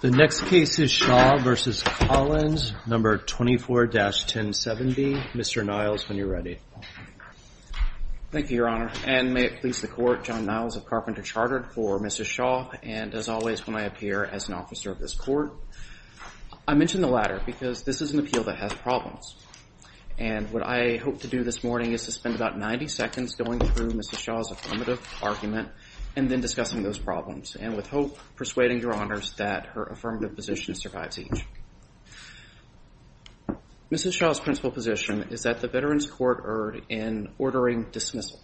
The next case is Shaw v. Collins, number 24-1070. Mr. Niles, when you're ready. Thank you, Your Honor. And may it please the court, John Niles of Carpenter Chartered for Mrs. Shaw. And as always, when I appear as an officer of this court, I mention the latter because this is an appeal that has problems. And what I hope to do this morning is to spend about 90 seconds going through Mrs. Shaw's affirmative argument and then discussing those problems. And with hope, persuading Your Honors that her affirmative position survives each. Mrs. Shaw's principal position is that the Veterans Court erred in ordering dismissal.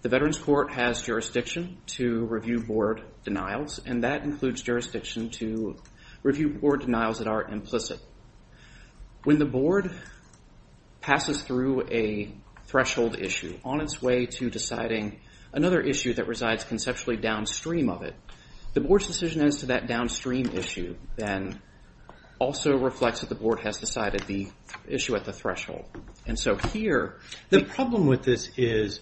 The Veterans Court has jurisdiction to review board denials, and that includes jurisdiction to review board denials that are implicit. When the board passes through a threshold issue on its way to deciding another issue that resides conceptually downstream of it, the board's decision as to that downstream issue then also reflects that the board has decided the issue at the threshold. And so here, the problem with this is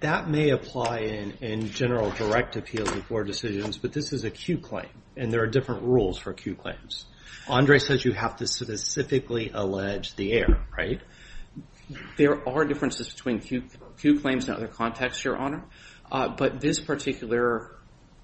that may apply in general direct appeal to board decisions. But this is a Q claim, and there are different rules for Q claims. Andre says you have to specifically allege the error. There are differences between Q claims and other contexts, Your Honor. But this particular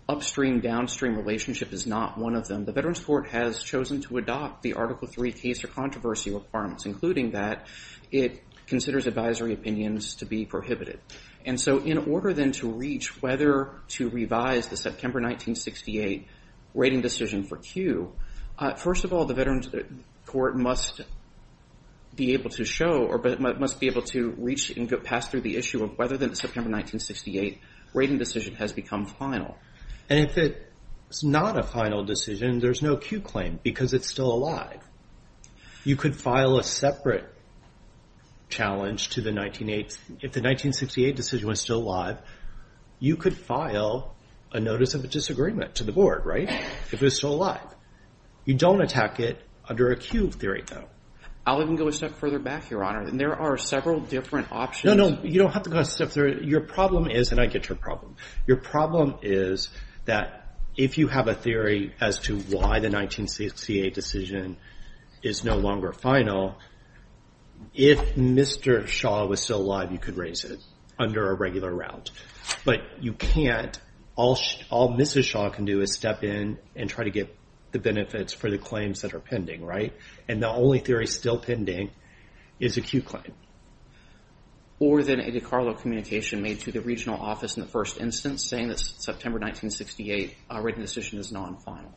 upstream-downstream relationship is not one of them. The Veterans Court has chosen to adopt the Article III case or controversy requirements. Including that, it considers advisory opinions to be prohibited. And so in order then to reach whether to revise the September 1968 rating decision for Q, first of all, the Veterans Court must be able to show or must be able to reach and pass through the issue of whether the September 1968 rating decision has become final. And if it's not a final decision, there's no Q claim because it's still alive. You could file a separate challenge to the 1968. If the 1968 decision was still alive, you could file a notice of a disagreement to the board, right, if it was still alive. You don't attack it under a Q theory, though. I'll even go a step further back, Your Honor. And there are several different options. No, no, you don't have to go a step further. Your problem is, and I get your problem, your problem is that if you have a theory as to why the 1968 decision is no longer final, if Mr. Shaw was still alive, you could raise it under a regular route. But you can't. All Mrs. Shaw can do is step in and try to get the benefits for the claims that are pending, right? And the only theory still pending is a Q claim. Or then a DiCarlo communication made to the regional office in the first instance saying that September 1968 written decision is non-final.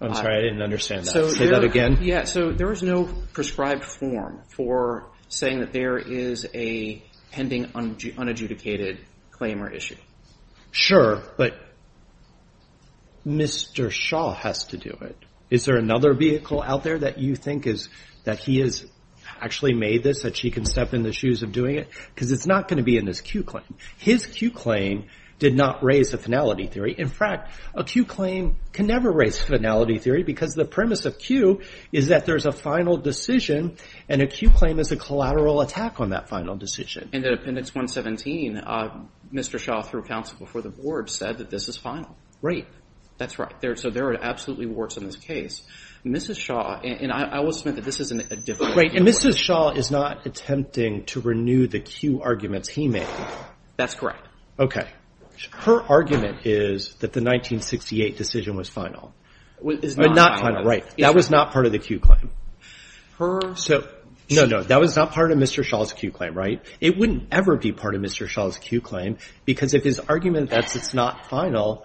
I'm sorry, I didn't understand that. Say that again. Yeah, so there is no prescribed form for saying that there is a pending unadjudicated claim or issue. Sure, but Mr. Shaw has to do it. Is there another vehicle out there that you think is that he has actually made this that she can step in the shoes of doing it? Because it's not going to be in this Q claim. His Q claim did not raise a finality theory. In fact, a Q claim can never raise finality theory because the premise of Q is that there is a final decision and a Q claim is a collateral attack on that final decision. And in appendix 117, Mr. Shaw, through counsel before the board, said that this is final. Right. That's right. So there are absolutely warts in this case. Mrs. Shaw, and I will submit that this is a different view. Right, and Mrs. Shaw is not attempting to renew the Q arguments he made. That's correct. OK. Her argument is that the 1968 decision was final. Is not final. Right, that was not part of the Q claim. Her. So no, no, that was not part of Mr. Shaw's Q claim, right? It wouldn't ever be part of Mr. Shaw's Q claim because if his argument that it's not final,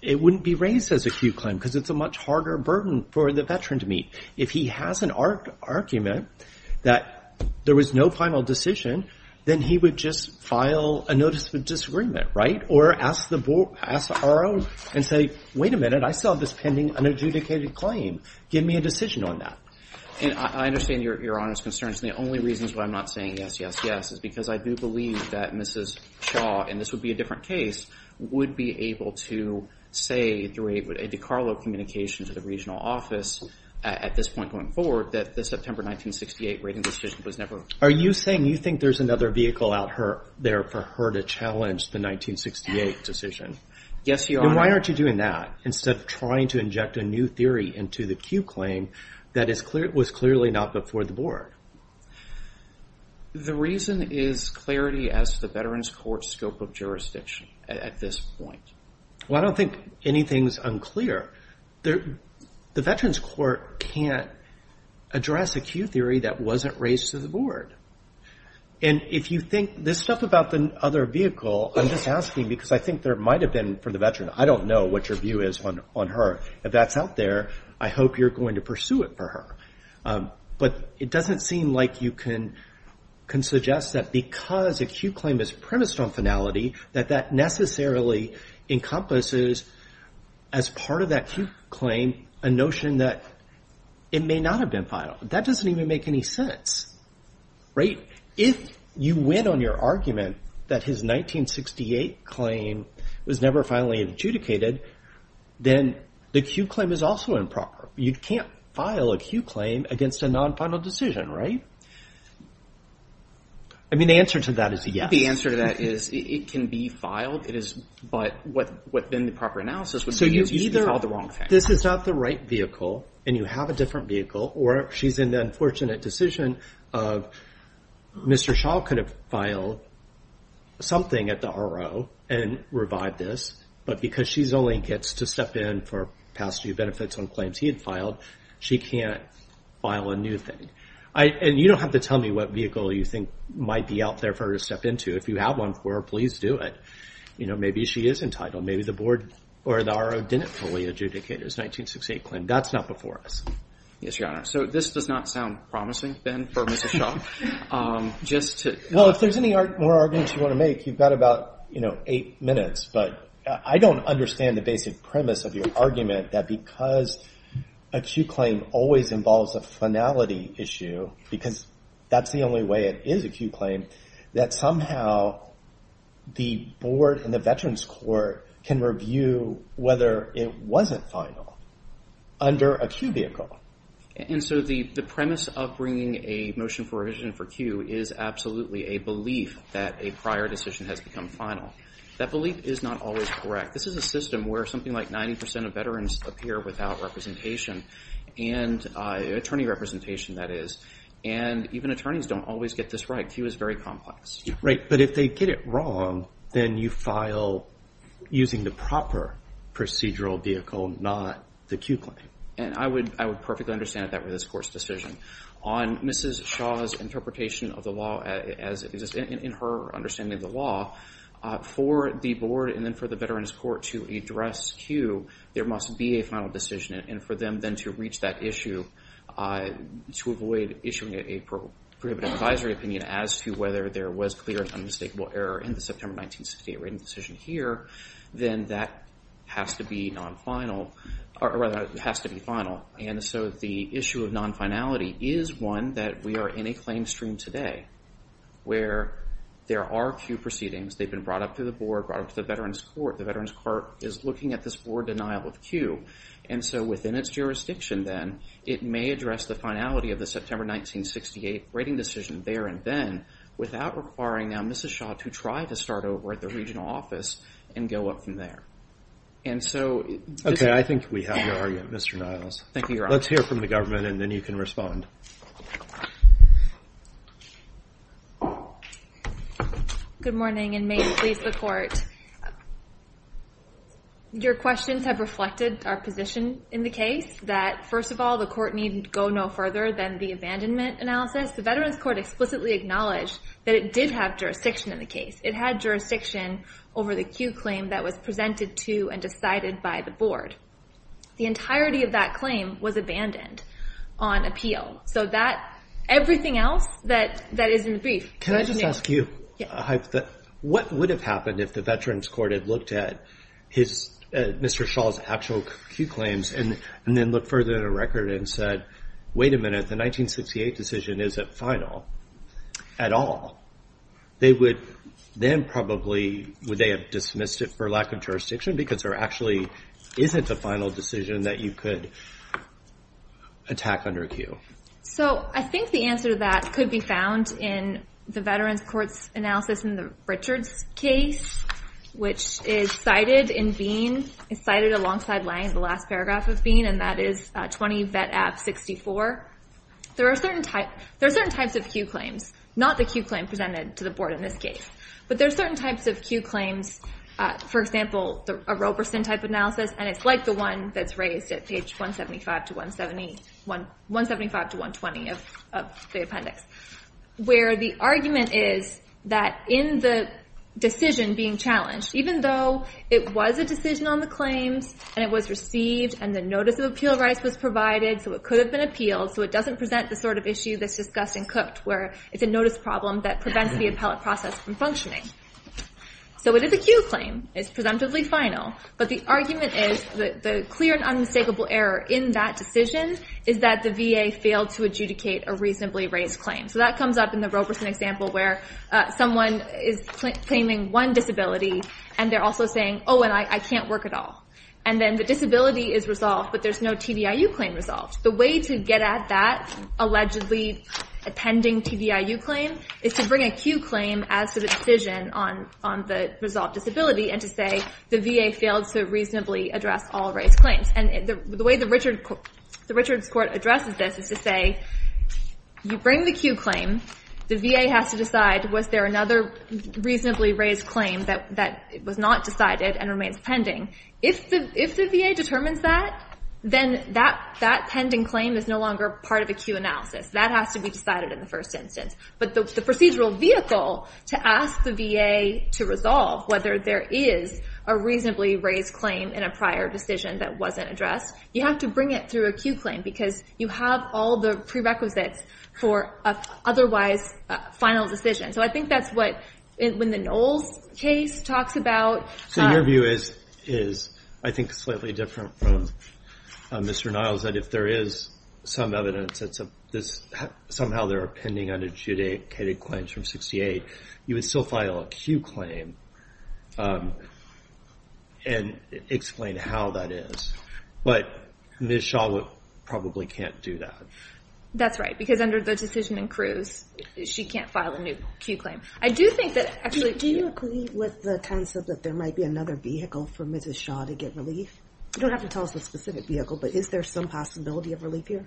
it wouldn't be raised as a Q claim because it's a much harder burden for the veteran to meet. If he has an argument that there was no final decision, then he would just file a notice of disagreement, right? Or ask the RO and say, wait a minute, I still have this pending unadjudicated claim. Give me a decision on that. And I understand Your Honor's concerns. The only reasons why I'm not saying yes, yes, yes is because I do believe that Mrs. Shaw, and this would be a different case, would be able to say through a DiCarlo communication to the regional office at this point going forward that the September 1968 rating decision was never. Are you saying you think there's another vehicle out there for her to challenge the 1968 decision? Yes, Your Honor. Then why aren't you doing that instead of trying to inject a new theory into the Q claim that was clearly not before the board? The reason is clarity as to the Veterans Court's scope of jurisdiction at this point. Well, I don't think anything's unclear. The Veterans Court can't address a Q theory that wasn't raised to the board. And if you think this stuff about the other vehicle, I'm just asking because I think there might have been for the veteran. I don't know what your view is on her. If that's out there, I hope you're going to pursue it for her. But it doesn't seem like you can suggest that because a Q claim is premised on finality, that that necessarily encompasses as part of that Q claim a notion that it may not have been filed. That doesn't even make any sense. If you win on your argument that his 1968 claim was never finally adjudicated, then the Q claim is also improper. You can't file a Q claim against a non-final decision, right? I mean, the answer to that is yes. The answer to that is it can be filed. But what then the proper analysis would be is you filed the wrong thing. So either this is not the right vehicle, and you have a different vehicle, or she's in the unfortunate decision of Mr. Shaw could have filed something at the RO and revived this. But because she only gets to step in for passage of benefits on claims he had filed, she can't file a new thing. And you don't have to tell me what vehicle you think might be out there for her to step into. If you have one for her, please do it. Maybe she is entitled. Maybe the board or the RO didn't fully adjudicate his 1968 claim. That's not before us. Yes, Your Honor. So this does not sound promising, Ben, for Mr. Shaw. Just to- Well, if there's any more arguments you want to make, you've got about eight minutes. But I don't understand the basic premise of your argument that because a Q claim always involves a finality issue, because that's the only way it is a Q claim, that somehow the board and the Veterans Court can review whether it wasn't final under a Q vehicle. And so the premise of bringing a motion for revision for Q is absolutely a belief that a prior decision has become final. That belief is not always correct. This is a system where something like 90% of veterans appear without representation, and attorney representation, that is. And even attorneys don't always get this right. Q is very complex. Right. But if they get it wrong, then you file using the proper procedural vehicle, not the Q claim. And I would perfectly understand that with this court's decision. On Mrs. Shaw's interpretation of the law, as it exists in her understanding of the law, for the board and then for the Veterans Court to address Q, there must be a final decision. And for them then to reach that issue, to avoid issuing a prohibitive advisory opinion as to whether there was clear and unmistakable error in the September 1968 rating decision here, then that has to be non-final. Or rather, it has to be final. And so the issue of non-finality is one that we are in a claim stream today, where there are Q proceedings. They've been brought up to the board, brought up to the Veterans Court. The Veterans Court is looking at this board denial of Q. And so within its jurisdiction, then, it may address the finality of the September 1968 rating decision there and then without requiring, now, Mrs. Shaw to try to start over at the regional office and go up from there. And so this is- OK, I think we have your argument, Mr. Niles. Thank you, Your Honor. Let's hear from the government. And then you can respond. Good morning, and may it please the court. Your questions have reflected our position in the case, that first of all, the court need go no further than the abandonment analysis. The Veterans Court explicitly acknowledged that it did have jurisdiction in the case. It had jurisdiction over the Q claim that was presented to and decided by the board. The entirety of that claim was abandoned on appeal. So everything else that is in the brief, we're going to need. Can I just ask you, what would have happened if the Veterans Court had looked at Mr. Shaw's actual Q claims and then looked further in the record and said, wait a minute, the 1968 decision isn't final at all? They would then probably, would they have dismissed it for lack of jurisdiction because there actually isn't a final decision that you could attack under Q? So I think the answer to that could be found in the Veterans Court's analysis in the Richards case, which is cited in Bean, cited alongside laying the last paragraph of Bean. And that is 20 Vet Ab 64. There are certain types of Q claims, not the Q claim presented to the board in this case. But there are certain types of Q claims, for example, a Roberson type analysis. And it's like the one that's raised at page 175 to 120 of the appendix, where the argument is that in the decision being challenged, even though it was a decision on the claims, and it was received, and the notice of appeal rights was provided, so it could have been appealed, so it doesn't present the sort of issue that's discussed in Cook, where it's a notice problem that prevents the appellate process from functioning. So it is a Q claim. It's presumptively final. But the argument is that the clear and unmistakable error in that decision is that the VA failed to adjudicate a reasonably raised claim. So that comes up in the Roberson example, where someone is claiming one disability, and they're also saying, oh, and I can't work at all. And then the disability is resolved, but there's no TDIU claim resolved. The way to get at that allegedly pending TDIU claim is to bring a Q claim as to the decision on the resolved disability, and to say the VA failed to reasonably address all raised claims. And the way the Richards Court addresses this is to say, you bring the Q claim. The VA has to decide, was there another reasonably raised claim that was not decided and remains pending? If the VA determines that, then that pending claim is no longer part of a Q analysis. That has to be decided in the first instance. But the procedural vehicle to ask the VA to resolve whether there is a reasonably raised claim in a prior decision that wasn't addressed, you have to bring it through a Q claim, because you have all the prerequisites for an otherwise final decision. So I think that's what, when the Knowles case talks about. So your view is, I think, slightly different from Mr. Niles, that if there is some evidence that somehow there are pending unadjudicated claims from 68, you would still file a Q claim and explain how that is. But Ms. Shaw probably can't do that. That's right. Because under the decision in Cruz, she can't file a new Q claim. I do think that, actually. Do you agree with the concept that there might be another vehicle for Mrs. Shaw to get relief? You don't have to tell us the specific vehicle, but is there some possibility of relief here?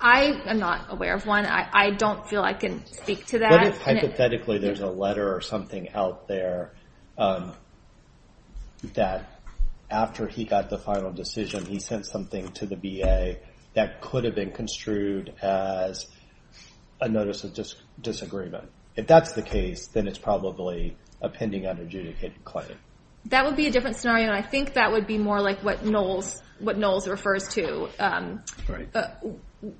I am not aware of one. I don't feel I can speak to that. But hypothetically, there's a letter or something out there that, after he got the final decision, he sent something to the VA that could have been construed as a notice of disagreement. If that's the case, then it's probably a pending unadjudicated claim. That would be a different scenario. And I think that would be more like what Knowles refers to,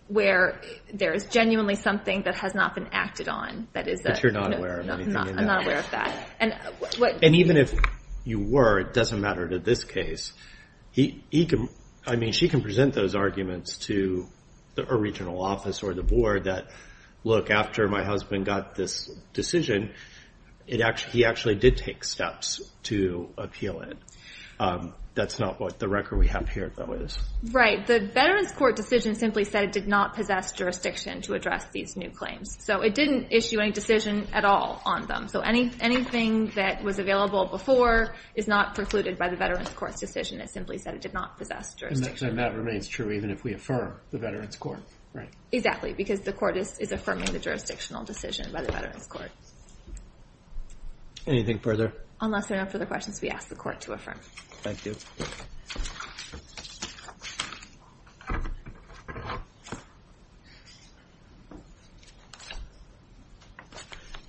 where there is genuinely something that has not been acted on. But you're not aware of anything in that? I'm not aware of that. And even if you were, it doesn't matter to this case. I mean, she can present those arguments to a regional office or the board that, look, after my husband got this decision, he actually did take steps to appeal it. That's not what the record we have here, though, is. Right. The Veterans Court decision simply said it did not possess jurisdiction to address these new claims. So it didn't issue any decision at all on them. So anything that was available before is not precluded by the Veterans Court's decision. It simply said it did not possess jurisdiction. And that remains true even if we affirm the Veterans Court, right? Exactly, because the court is affirming the jurisdictional decision by the Veterans Court. Anything further? Unless there are no further questions, we ask the court to affirm. Thank you.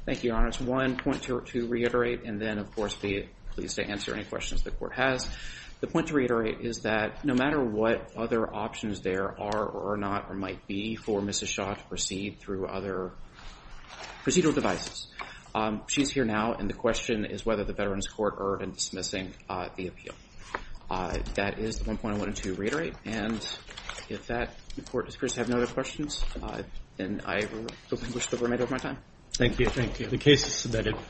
Thank you, Your Honor. It's one point to reiterate. And then, of course, be pleased to answer any questions the court has. The point to reiterate is that no matter what other options there are or not or might be for Mrs. Shaw to proceed through other procedural devices, she's here now. And the question is whether the Veterans Court are in dismissing the appeal. That is the one point I wanted to reiterate. And if the court appears to have no other questions, then I will wish the very best of my time. Thank you. Thank you. The case is submitted.